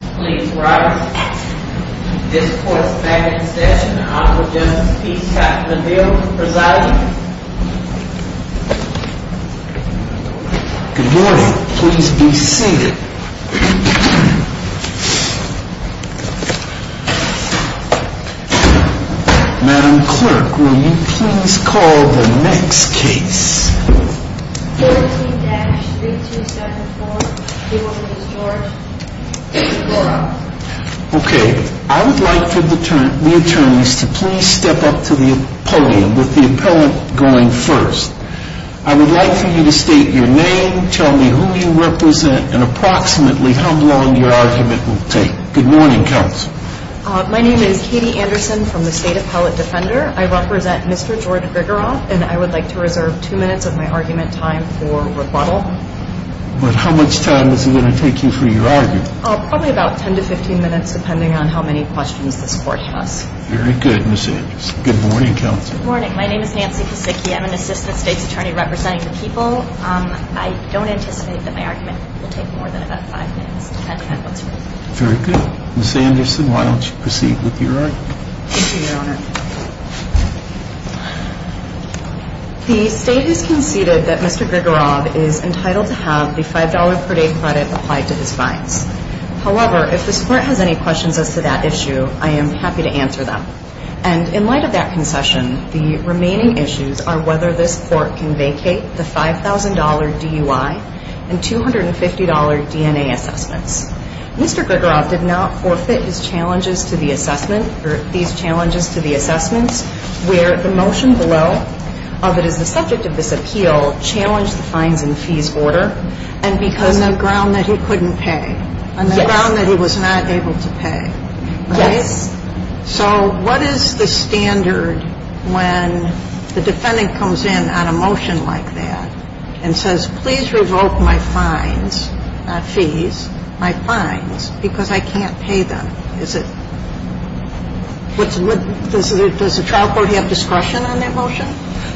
Please rise. This court's back in session. The Honorable Justice Pete Katloville presiding. Good morning. Please be seated. Madam Clerk, will you please call the next case? 14-3274. The woman is George. Okay. I would like for the attorneys to please step up to the podium, with the appellant going first. I would like for you to state your name, tell me who you represent, and approximately how long your argument will take. Good morning, Counsel. My name is Katie Anderson from the State Appellate Defender. I represent Mr. Jordan Grigorov, and I would like to reserve two minutes of my argument time for rebuttal. But how much time is it going to take you for your argument? Probably about 10 to 15 minutes, depending on how many questions this court has. Very good, Ms. Anderson. Good morning, Counsel. Good morning. My name is Nancy Kosicki. I'm an Assistant State's Attorney representing the people. I don't anticipate that my argument will take more than about five minutes, depending on what's heard. Very good. Ms. Anderson, why don't you proceed with your argument? Thank you, Your Honor. The State has conceded that Mr. Grigorov is entitled to have the $5 per day credit applied to his fines. However, if this Court has any questions as to that issue, I am happy to answer them. And in light of that concession, the remaining issues are whether this Court can vacate the $5,000 DUI and $250 DNA assessments. Mr. Grigorov did not forfeit his challenges to the assessment, or these challenges to the assessments, where the motion below, that is the subject of this appeal, challenged the fines and fees order. On the ground that he couldn't pay. Yes. On the ground that he was not able to pay. Yes. So what is the standard when the defendant comes in on a motion like that and says, please revoke my fines, fees, my fines, because I can't pay them? Does the trial court have discretion on that motion?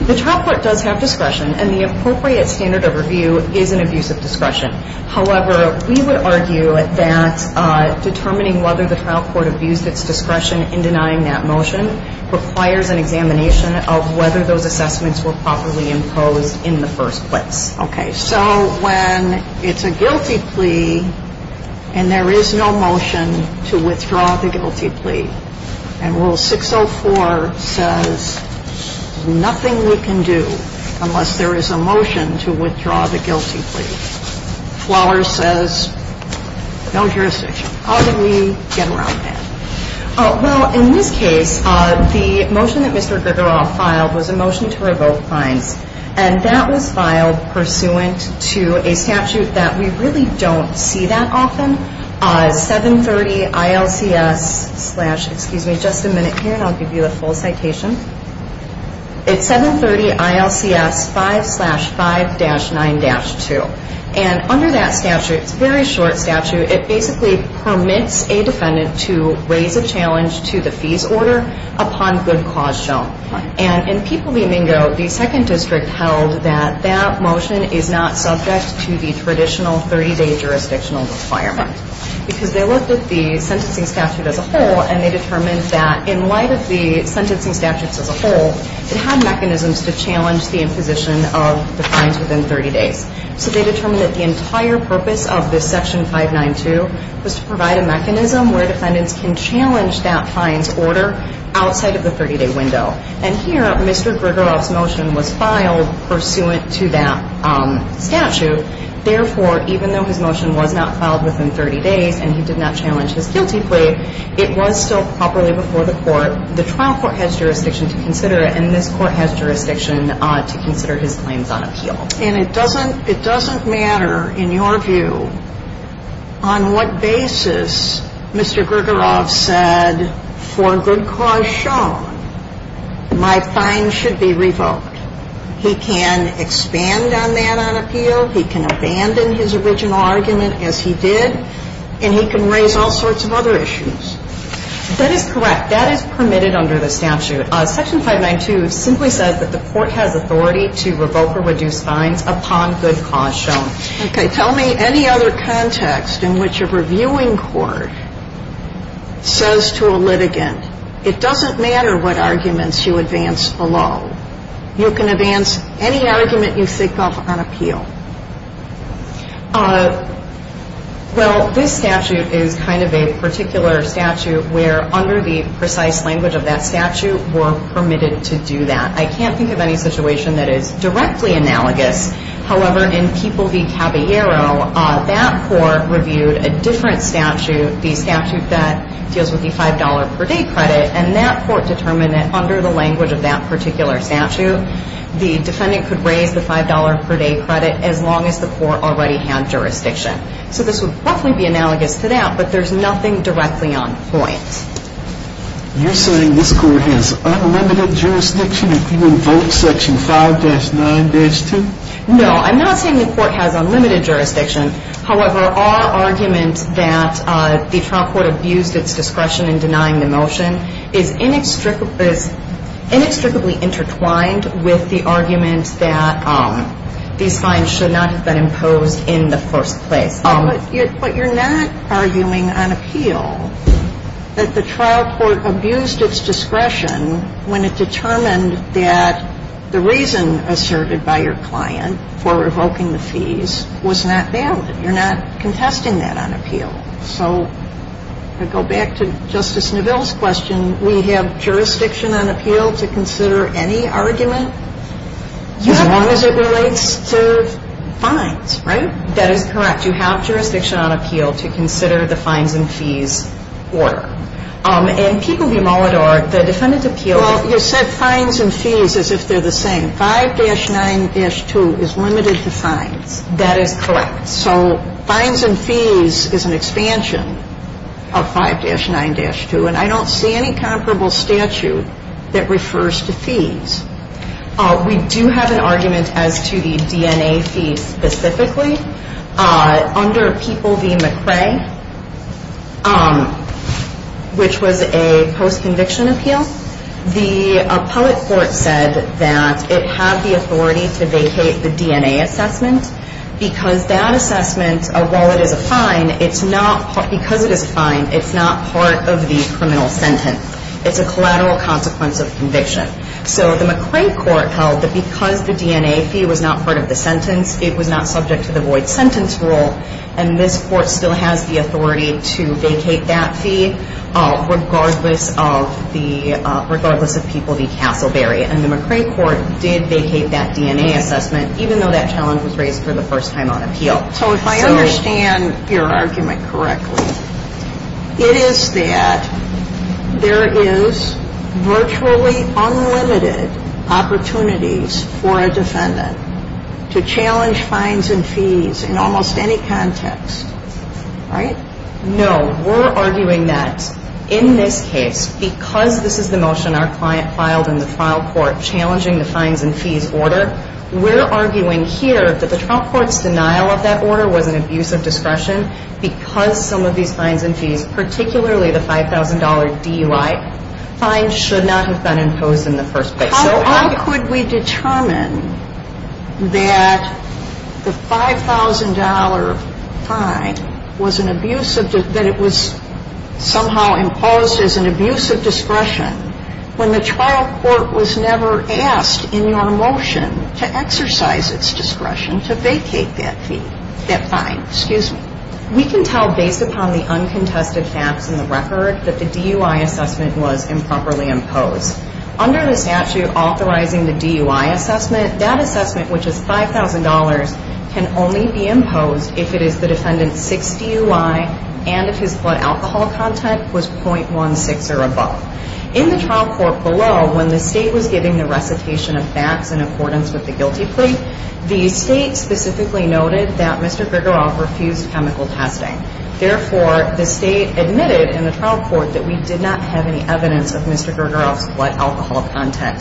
The trial court does have discretion, and the appropriate standard of review is an abuse of discretion. However, we would argue that determining whether the trial court abused its discretion in denying that motion requires an examination of whether those assessments were properly imposed in the first place. Okay. So when it's a guilty plea and there is no motion to withdraw the guilty plea, and Rule 604 says nothing we can do unless there is a motion to withdraw the guilty plea. Flowers says no jurisdiction. How did we get around that? Well, in this case, the motion that Mr. Grigorov filed was a motion to revoke fines, and that was filed pursuant to a statute that we really don't see that often, 730 ILCS 5-5-9-2. And under that statute, it's a very short statute. It basically permits a defendant to raise a challenge to the fees order upon good cause shown. And in People v. Mingo, the second district held that that motion is not subject to the traditional 30-day jurisdictional requirement because they looked at the sentencing statute as a whole, and they determined that in light of the sentencing statutes as a whole, it had mechanisms to challenge the imposition of the fines within 30 days. So they determined that the entire purpose of this Section 5-9-2 was to provide a mechanism where defendants can challenge that fines order outside of the 30-day window. And here, Mr. Grigorov's motion was filed pursuant to that statute. Therefore, even though his motion was not filed within 30 days and he did not challenge his guilty plea, it was still properly before the court. The trial court has jurisdiction to consider it, and this court has jurisdiction to consider his claims on appeal. And it doesn't matter, in your view, on what basis Mr. Grigorov said, for good cause shown, my fine should be revoked. He can expand on that on appeal. He can abandon his original argument as he did, and he can raise all sorts of other issues. That is correct. That is permitted under the statute. Section 5-9-2 simply says that the court has authority to revoke or reduce fines upon good cause shown. Okay. Tell me any other context in which a reviewing court says to a litigant, it doesn't matter what arguments you advance below. You can advance any argument you think of on appeal. Well, this statute is kind of a particular statute where under the precise language of that statute we're permitted to do that. I can't think of any situation that is directly analogous. However, in People v. Caballero, that court reviewed a different statute, the statute that deals with the $5 per day credit, and that court determined that under the language of that particular statute, the defendant could raise the $5 per day credit as long as the court already had jurisdiction. So this would roughly be analogous to that, but there's nothing directly on point. You're saying this court has unlimited jurisdiction if you revoke Section 5-9-2? No. I'm not saying the court has unlimited jurisdiction. However, our argument that the trial court abused its discretion in denying the motion is inextricably intertwined with the argument that these fines should not have been imposed in the first place. But you're not arguing on appeal that the trial court abused its discretion when it determined that the reason asserted by your client for revoking the fees was not valid. You're not contesting that on appeal. So I go back to Justice Neville's question. We have jurisdiction on appeal to consider any argument as long as it relates to fines, right? That is correct. You have jurisdiction on appeal to consider the fines and fees order. In People v. Molidor, the defendant's appeal is the same. Well, you said fines and fees as if they're the same. 5-9-2 is limited to fines. That is correct. So fines and fees is an expansion of 5-9-2, and I don't see any comparable statute that refers to fees. We do have an argument as to the DNA fees specifically. Under People v. McRae, which was a post-conviction appeal, the appellate court said that it had the authority to vacate the DNA assessment because that assessment, while it is a fine, it's not part of the criminal sentence. It's a collateral consequence of conviction. So the McRae court held that because the DNA fee was not part of the sentence, it was not subject to the void sentence rule, and this court still has the authority to vacate that fee regardless of People v. Castleberry. And the McRae court did vacate that DNA assessment, even though that challenge was raised for the first time on appeal. So if I understand your argument correctly, it is that there is virtually unlimited opportunities for a defendant to challenge fines and fees in almost any context, right? No. We're arguing that in this case, because this is the motion our client filed in the trial court, challenging the fines and fees order, we're arguing here that the trial court's denial of that order was an abuse of discretion because some of these fines and fees, particularly the $5,000 DUI, fines should not have been imposed in the first place. So how could we determine that the $5,000 fine was an abuse of – that it was somehow imposed as an abuse of discretion when the trial court was never asked in your motion to exercise its discretion to vacate that fee – that fine? Excuse me. We can tell based upon the uncontested facts in the record that the DUI assessment was improperly imposed. Under the statute authorizing the DUI assessment, that assessment, which is $5,000, can only be imposed if it is the defendant's 6 DUI and if his blood alcohol content was .16 or above. In the trial court below, when the state was giving the recitation of facts in accordance with the guilty plea, the state specifically noted that Mr. Grigoroff refused chemical testing. Therefore, the state admitted in the trial court that we did not have any evidence of Mr. Grigoroff's blood alcohol content.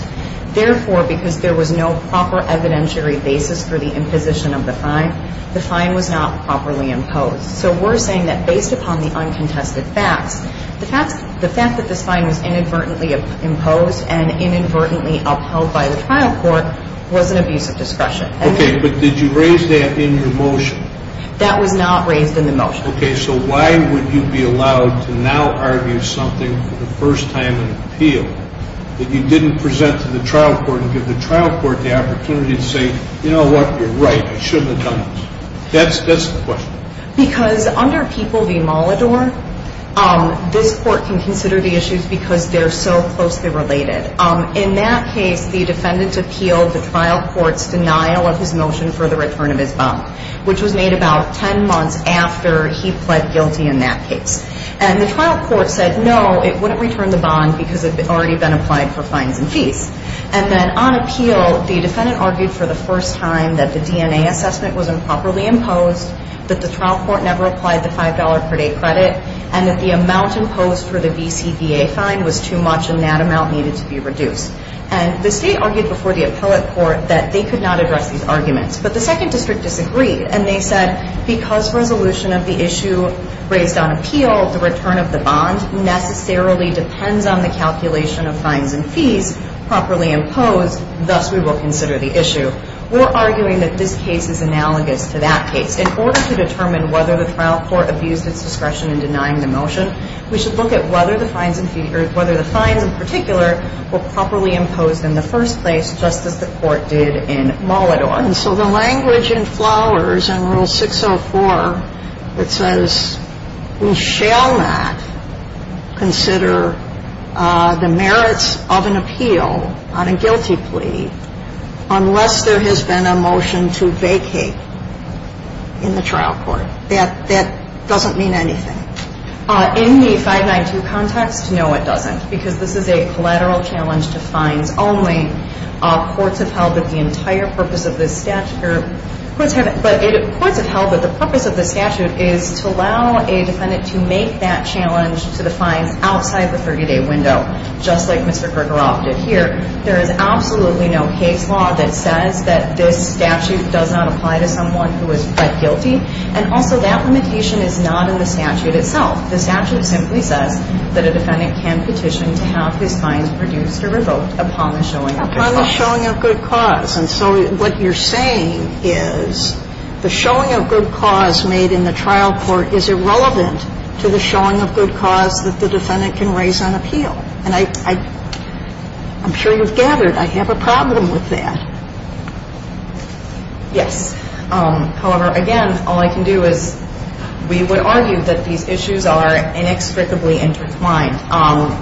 Therefore, because there was no proper evidentiary basis for the imposition of the fine, the fine was not properly imposed. So we're saying that based upon the uncontested facts, the fact that this fine was inadvertently imposed and inadvertently upheld by the trial court was an abuse of discretion. Okay, but did you raise that in your motion? That was not raised in the motion. Okay, so why would you be allowed to now argue something for the first time in an appeal that you didn't present to the trial court and give the trial court the opportunity to say, you know what, you're right, I shouldn't have done this. That's the question. Because under People v. Molidor, this court can consider the issues because they're so closely related. In that case, the defendant appealed the trial court's denial of his motion for the return of his bond, which was made about 10 months after he pled guilty in that case. And the trial court said, no, it wouldn't return the bond because it had already been applied for fines and fees. And then on appeal, the defendant argued for the first time that the DNA assessment was improperly imposed, that the trial court never applied the $5 per day credit, and that the amount imposed for the VCBA fine was too much and that amount needed to be reduced. But the second district disagreed, and they said, because resolution of the issue raised on appeal, the return of the bond necessarily depends on the calculation of fines and fees properly imposed, thus we will consider the issue. We're arguing that this case is analogous to that case. In order to determine whether the trial court abused its discretion in denying the motion, we should look at whether the fines in particular were properly imposed in the first place, just as the court did in Molidor. And so the language in Flowers in Rule 604, it says, we shall not consider the merits of an appeal on a guilty plea unless there has been a motion to vacate in the trial court. That doesn't mean anything. In the 592 context, no, it doesn't, because this is a collateral challenge to fines only. Courts have held that the entire purpose of this statute is to allow a defendant to make that challenge to the fines outside the 30-day window, just like Mr. Kruger opted here. There is absolutely no case law that says that this statute does not apply to someone who is fed guilty, and also that limitation is not in the statute itself. The statute simply says that a defendant can petition to have his fines reduced or revoked upon the showing of good cause. Upon the showing of good cause. And so what you're saying is the showing of good cause made in the trial court is irrelevant to the showing of good cause that the defendant can raise on appeal. And I'm sure you've gathered I have a problem with that. Yes. However, again, all I can do is we would argue that these issues are inextricably intertwined.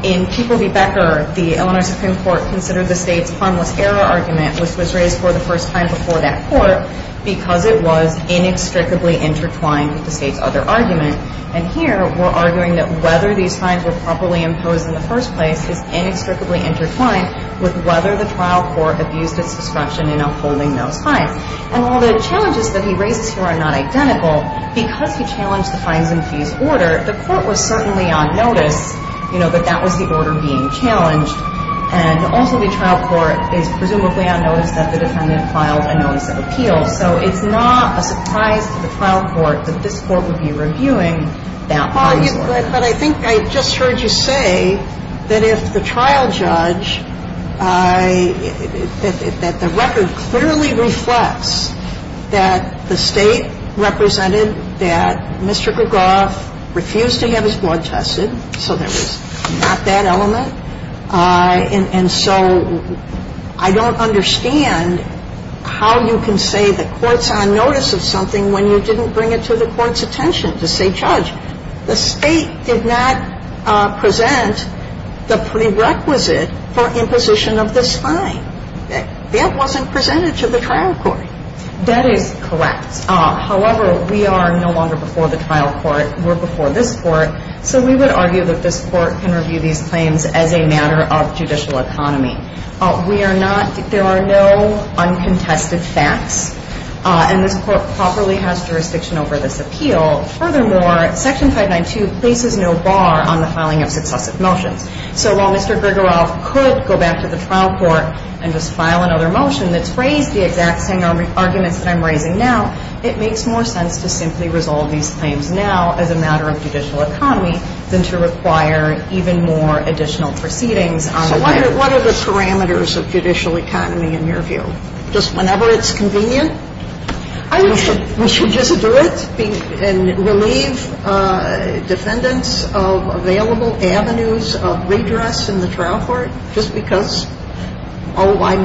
In People v. Becker, the Illinois Supreme Court considered the State's harmless error argument, which was raised for the first time before that court, because it was inextricably intertwined with the State's other argument. And here we're arguing that whether these fines were properly imposed in the first place is inextricably intertwined with whether the trial court abused its discretion in upholding those fines. And while the challenges that he raises here are not identical, because he challenged the fines and fees order, the court was certainly on notice, you know, that that was the order being challenged. And also the trial court is presumably on notice that the defendant filed a notice of appeal. So it's not a surprise to the trial court that this court would be reviewing that. But I think I just heard you say that if the trial judge, that the record clearly reflects that the State represented that Mr. Becker Gough refused to have his blood tested, so there was not that element. And so I don't understand how you can say the court's on notice of something when you didn't bring it to the court's attention to say, Judge, the State did not present the prerequisite for imposition of this fine. That wasn't presented to the trial court. That is correct. However, we are no longer before the trial court. We're before this court. So we would argue that this court can review these claims as a matter of judicial economy. We are not, there are no uncontested facts. And this court properly has jurisdiction over this appeal. Furthermore, Section 592 places no bar on the filing of successive motions. So while Mr. Gregoroff could go back to the trial court and just file another motion that's phrased the exact same arguments that I'm raising now, it makes more sense to simply resolve these claims now as a matter of judicial economy than to require even more additional proceedings. So what are the parameters of judicial economy in your view? Just whenever it's convenient? We should just do it and relieve defendants of available avenues of redress in the I'm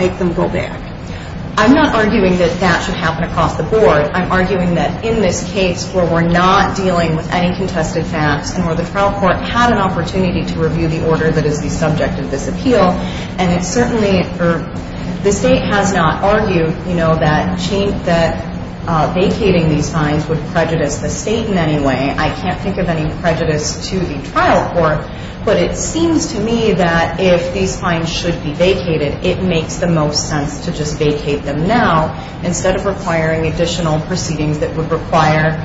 not arguing that that should happen across the board. I'm arguing that in this case where we're not dealing with any contested facts and where the trial court had an opportunity to review the order that is the subject of this appeal, and it certainly, or the state has not argued, you know, that vacating these fines would prejudice the state in any way. I can't think of any prejudice to the trial court. But it seems to me that if these fines should be vacated, it makes the most sense to just vacate them now instead of requiring additional proceedings that would require,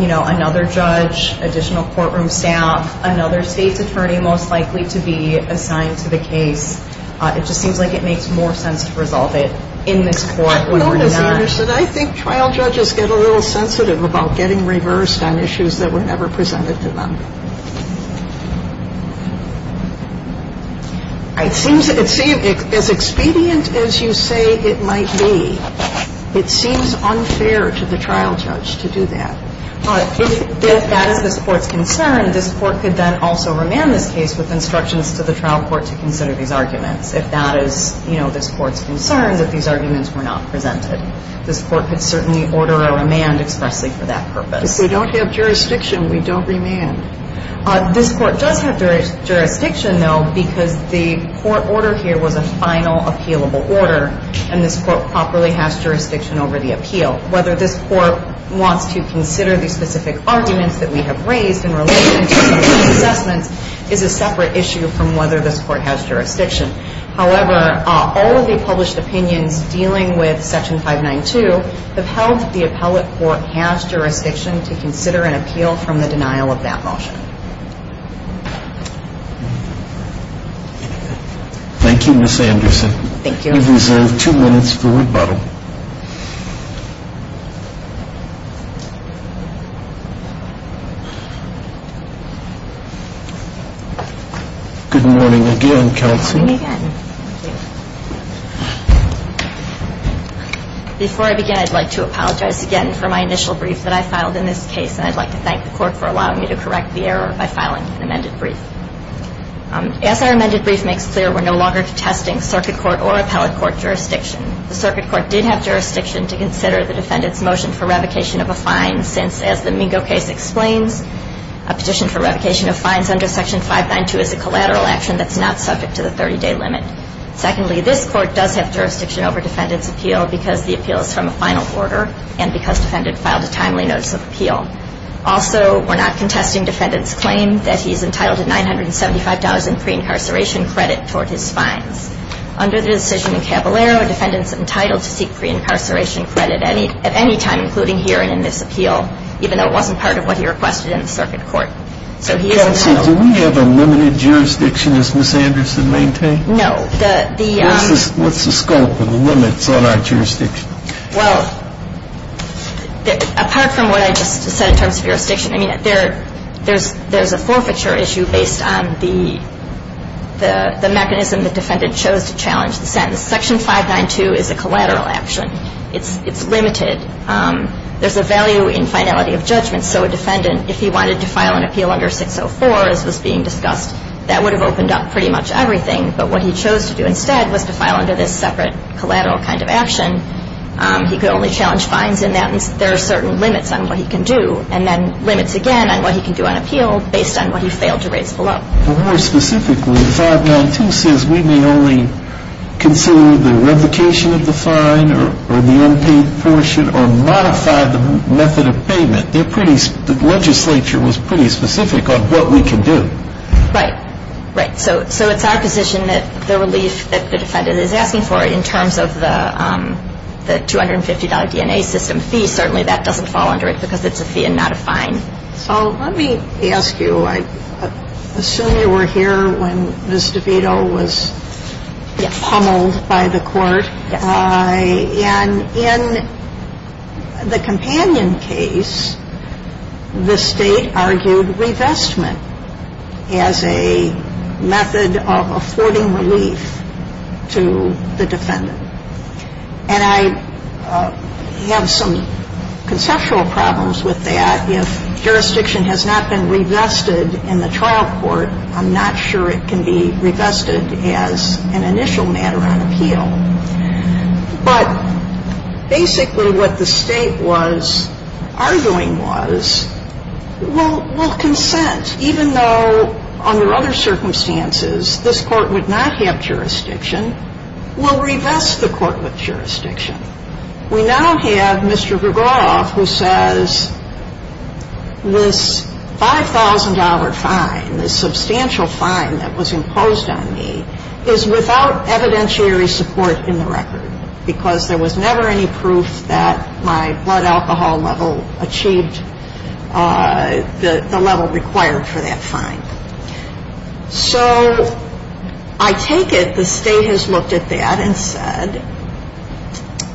you know, another judge, additional courtroom staff, another state's attorney most likely to be assigned to the case. It just seems like it makes more sense to resolve it in this court when we're not. I don't understand. I think trial judges get a little sensitive about getting reversed on issues that were never presented to them. It seems as expedient as you say it might be, it seems unfair to the trial judge to do that. But if that is this Court's concern, this Court could then also remand this case with instructions to the trial court to consider these arguments. If that is, you know, this Court's concern, that these arguments were not presented. This Court could certainly order a remand expressly for that purpose. If we don't have jurisdiction, we don't remand. This Court does have jurisdiction, though, because the court order here was a final appealable order, and this Court properly has jurisdiction over the appeal. Whether this Court wants to consider these specific arguments that we have raised in relation to these assessments is a separate issue from whether this Court has jurisdiction. However, all of the published opinions dealing with Section 592 have held that the appellate court has jurisdiction to consider an appeal from the denial of that motion. Thank you, Ms. Anderson. Thank you. You have reserved two minutes for rebuttal. Good morning again, counsel. Good morning again. Before I begin, I'd like to apologize again for my initial brief that I filed in this case, and I'd like to thank the Court for allowing me to correct the error by filing an amended brief. As our amended brief makes clear, we're no longer testing circuit court or appellate court jurisdiction. The circuit court did have jurisdiction to consider the defendant's motion for revocation of a fine, since, as the Mingo case explains, a petition for revocation of fines under Section 592 is a collateral action that's not subject to the 30-day limit. Secondly, this Court does have jurisdiction over defendant's appeal because the appeal is from a final order and because defendant filed a timely notice of appeal. Also, we're not contesting defendant's claim that he's entitled to $975,000 pre-incarceration credit toward his fines. Under the decision in Caballero, a defendant's entitled to seek pre-incarceration credit at any time, including here and in this appeal, even though it wasn't part of what he requested in the circuit court. So he is entitled. Counsel, do we have a limited jurisdiction, as Ms. Anderson maintained? No. What's the scope or the limits on our jurisdiction? Well, apart from what I just said in terms of jurisdiction, I mean, there's a forfeiture issue based on the mechanism the defendant chose to challenge the sentence. Section 592 is a collateral action. It's limited. There's a value in finality of judgment. So a defendant, if he wanted to file an appeal under 604, as was being discussed, that would have opened up pretty much everything. But what he chose to do instead was to file under this separate collateral kind of action. He could only challenge fines in that. There are certain limits on what he can do, and then limits again on what he can do on appeal based on what he failed to raise below. More specifically, 592 says we may only consider the revocation of the fine or the unpaid portion or modify the method of payment. The legislature was pretty specific on what we can do. Right. Right. So it's our position that the relief that the defendant is asking for in terms of the $250 DNA system fee, certainly that doesn't fall under it because it's a fee and not a fine. So let me ask you. I assume you were here when Ms. DeVito was pummeled by the court. Yes. And in the companion case, the State argued revestment as a method of affording relief to the defendant. And I have some conceptual problems with that. If jurisdiction has not been revested in the trial court, I'm not sure it can be But basically what the State was arguing was we'll consent, even though under other circumstances this court would not have jurisdiction, we'll revest the court with jurisdiction. We now have Mr. Vergoff who says this $5,000 fine, this substantial fine that was imposed on me, is without evidentiary support in the record. Because there was never any proof that my blood alcohol level achieved the level required for that fine. So I take it the State has looked at that and said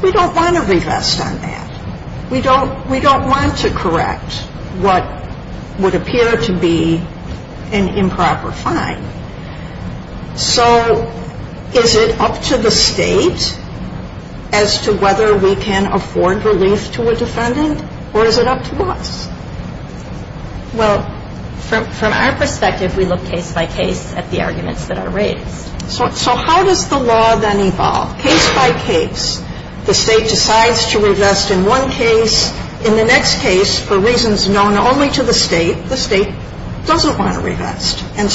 we don't want to revest on that. We don't want to correct what would appear to be an improper fine. So is it up to the State as to whether we can afford relief to a defendant or is it up to us? Well, from our perspective, we look case by case at the arguments that are raised. So how does the law then evolve? Case by case, the State decides to revest in one case. In the next case, for reasons known only to the State, the State doesn't want to revest. And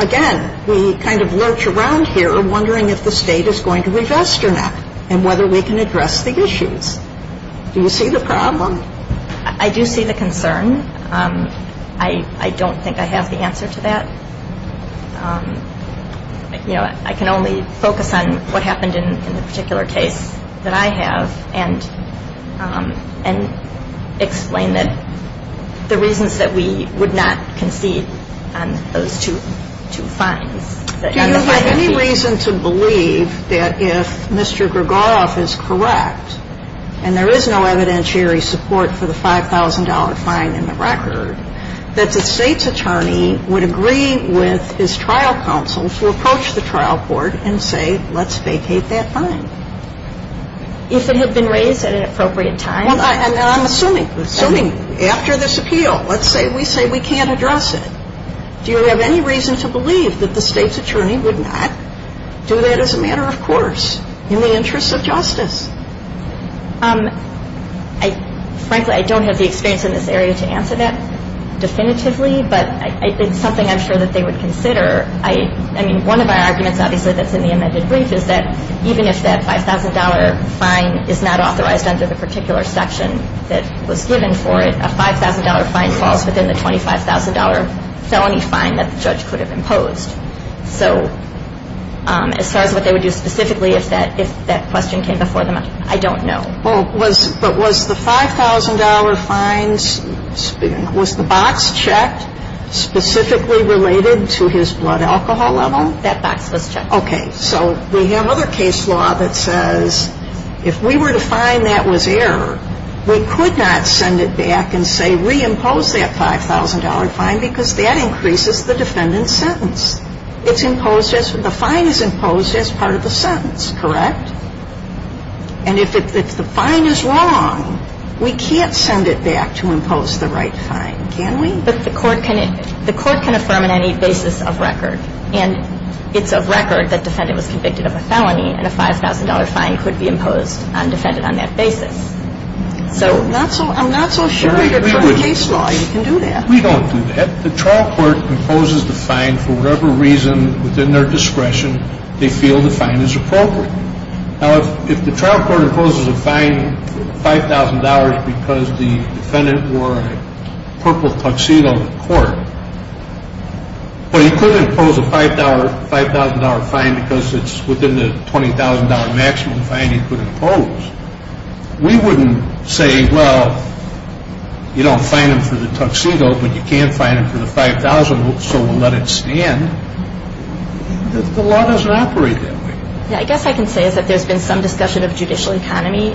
again, we kind of lurch around here wondering if the State is going to revest or not and whether we can address the issues. Do you see the problem? I do see the concern. I don't think I have the answer to that. You know, I can only focus on what happened in the particular case that I have and explain the reasons that we would not concede on those two fines. Do you have any reason to believe that if Mr. Gregoroff is correct and there is no evidentiary support for the $5,000 fine in the record, that the State's attorney would agree with his trial counsel to approach the trial court and say let's vacate that fine? If it had been raised at an appropriate time. I'm assuming, assuming after this appeal, let's say we say we can't address it. Do you have any reason to believe that the State's attorney would not do that as a matter of course in the interests of justice? Frankly, I don't have the experience in this area to answer that definitively, but it's something I'm sure that they would consider. One of our arguments obviously that's in the amended brief is that even if that $5,000 fine is not authorized under the particular section that was given for it, a $5,000 fine falls within the $25,000 felony fine that the judge could have imposed. So as far as what they would do specifically if that question came before them, I don't know. But was the $5,000 fine, was the box checked specifically related to his blood alcohol level? That box was checked. Okay. So we have other case law that says if we were to find that was error, we could not send it back and say reimpose that $5,000 fine because that increases the defendant's sentence. It's imposed, the fine is imposed as part of the sentence, correct? And if the fine is wrong, we can't send it back to impose the right fine, can we? But the court can affirm on any basis of record. And it's of record that the defendant was convicted of a felony and a $5,000 fine could be imposed on the defendant on that basis. I'm not so sure that under case law you can do that. We don't do that. The trial court imposes the fine for whatever reason within their discretion they feel the fine is appropriate. Now, if the trial court imposes a fine for $5,000 because the defendant wore a purple tuxedo to court, well, you could impose a $5,000 fine because it's within the $20,000 maximum fine you could impose. We wouldn't say, well, you don't fine him for the tuxedo, but you can fine him for the $5,000, so we'll let it stand. The law doesn't operate that way. Yeah, I guess what I can say is that there's been some discussion of judicial economy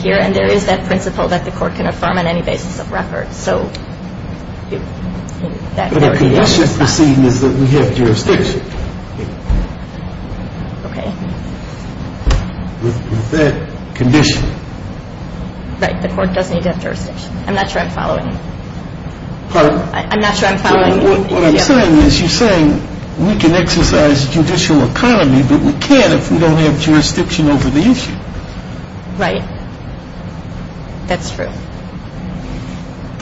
here, and there is that principle that the court can affirm on any basis of record. But the condition of the proceeding is that we have jurisdiction. Okay. With that condition. Right. The court does need to have jurisdiction. I'm not sure I'm following you. Pardon? I'm not sure I'm following you. What I'm saying is you're saying we can exercise judicial economy, but we can't if we don't have jurisdiction over the issue. Right. That's true.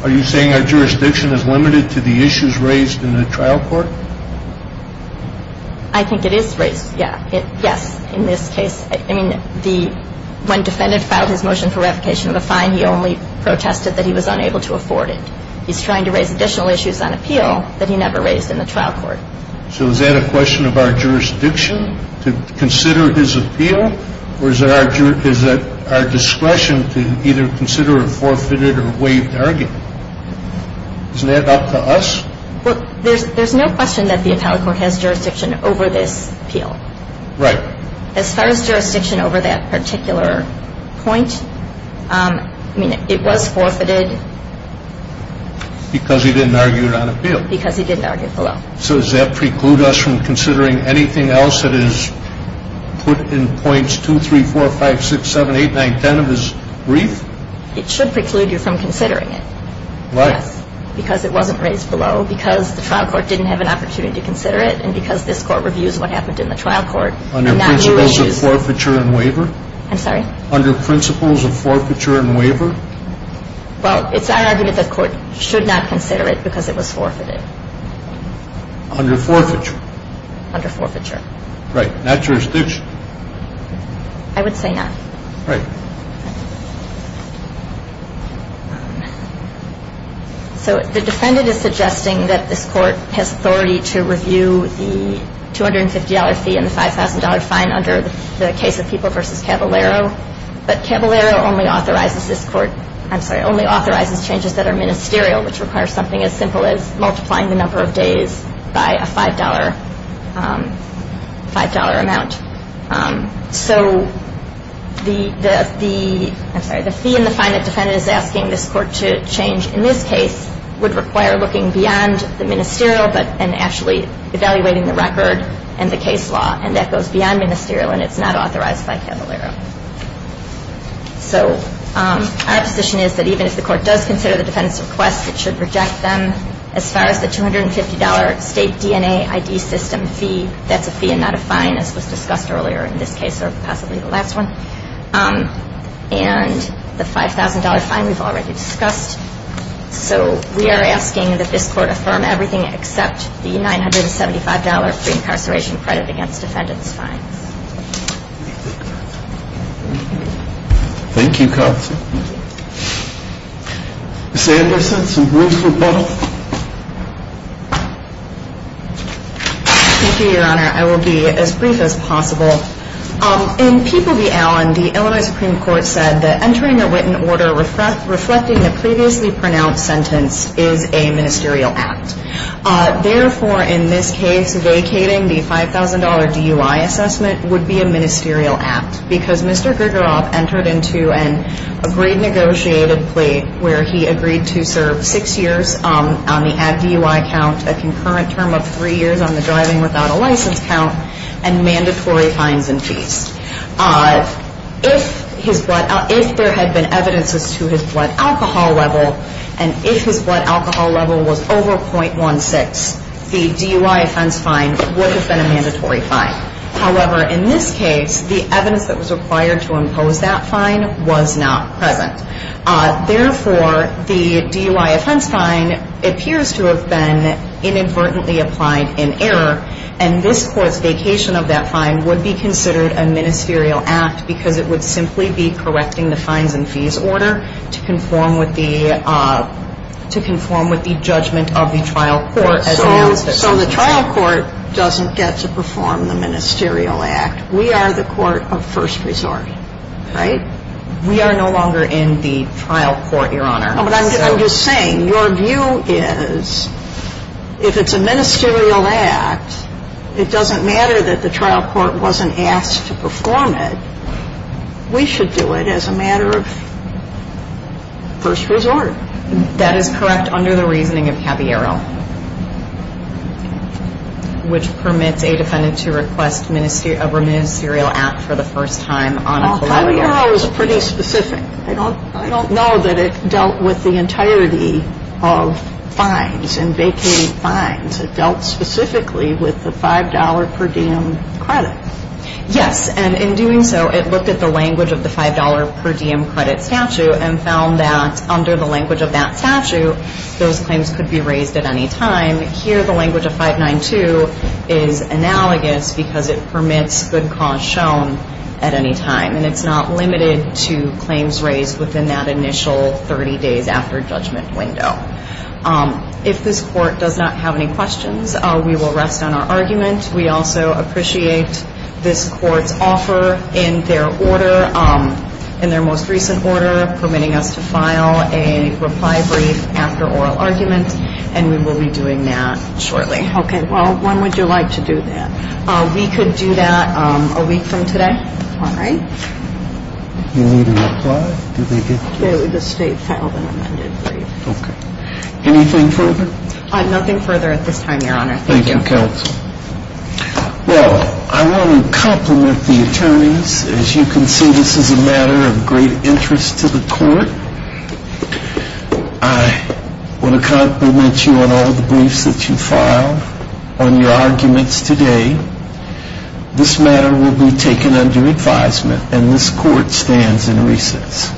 Are you saying our jurisdiction is limited to the issues raised in the trial court? I think it is raised, yeah. Yes, in this case. I mean, when defendant filed his motion for revocation of the fine, he only protested that he was unable to afford it. He's trying to raise additional issues on appeal that he never raised in the trial court. So is that a question of our jurisdiction to consider his appeal, or is it our discretion to either consider a forfeited or waived argument? Is that up to us? Well, there's no question that the appellate court has jurisdiction over this appeal. Right. As far as jurisdiction over that particular point, I mean, it was forfeited. Because he didn't argue it on appeal. Because he didn't argue it below. So does that preclude us from considering anything else that is put in points 2, 3, 4, 5, 6, 7, 8, 9, 10 of his brief? It should preclude you from considering it. Why? Because it wasn't raised below, because the trial court didn't have an opportunity to consider it, and because this court reviews what happened in the trial court. Under principles of forfeiture and waiver? I'm sorry? Under principles of forfeiture and waiver? Well, it's our argument that the court should not consider it because it was forfeited. Under forfeiture? Under forfeiture. Right. Not jurisdiction? I would say not. Right. So the defendant is suggesting that this court has authority to review the $250 fee and the $5,000 fine under the case of People v. Caballero, but Caballero only authorizes changes that are ministerial, which requires something as simple as multiplying the number of days by a $5 amount. So the fee and the fine that the defendant is asking this court to change in this case would require looking beyond the ministerial and actually evaluating the record and the case law, and that goes beyond ministerial and it's not authorized by Caballero. So our position is that even if the court does consider the defendant's request, it should reject them. As far as the $250 state DNA ID system fee, that's a fee and not a fine, as was discussed earlier in this case or possibly the last one, and the $5,000 fine we've already discussed. So we are asking that this court affirm everything except the $975 pre-incarceration credit against defendant's fines. Thank you, counsel. Ms. Anderson, some brief rebuttal? Thank you, Your Honor. I will be as brief as possible. In People v. Allen, the Illinois Supreme Court said that entering a wit and order reflecting the previously pronounced sentence is a ministerial act. Therefore, in this case, vacating the $5,000 DUI assessment would be a ministerial act because Mr. Grigoroff entered into an agreed negotiated plea where he agreed to serve six years on the add DUI count, a concurrent term of three years on the driving without a license count, and mandatory fines and fees. If there had been evidences to his blood alcohol level, and if his blood alcohol level was over .16, the DUI offense fine would have been a mandatory fine. However, in this case, the evidence that was required to impose that fine was not present. Therefore, the DUI offense fine appears to have been inadvertently applied in error, and this Court's vacation of that fine would be considered a ministerial act because it would simply be correcting the fines and fees order to conform with the judgment of the trial court as announced. So the trial court doesn't get to perform the ministerial act. We are the court of first resort, right? We are no longer in the trial court, Your Honor. But I'm just saying, your view is if it's a ministerial act, it doesn't matter that the trial court wasn't asked to perform it. We should do it as a matter of first resort. That is correct under the reasoning of Caviero, which permits a defendant to request a ministerial act for the first time on a preliminary basis. Well, Caviero is pretty specific. I don't know that it dealt with the entirety of fines and vacating fines. It dealt specifically with the $5 per diem credit. Yes, and in doing so, it looked at the language of the $5 per diem credit statute and found that under the language of that statute, those claims could be raised at any time. Here, the language of 592 is analogous because it permits good cause shown at any time, and it's not limited to claims raised within that initial 30 days after judgment window. If this court does not have any questions, we will rest on our argument. We also appreciate this court's offer in their order, in their most recent order, permitting us to file a reply brief after oral argument, and we will be doing that shortly. Okay. Well, when would you like to do that? We could do that a week from today. All right. You need a reply? The state filed an amended brief. Okay. Anything further? Nothing further at this time, Your Honor. Thank you. Thank you, Counsel. Well, I want to compliment the attorneys. As you can see, this is a matter of great interest to the court. I want to compliment you on all the briefs that you filed, on your arguments today. This matter will be taken under advisement, and this court stands in recess.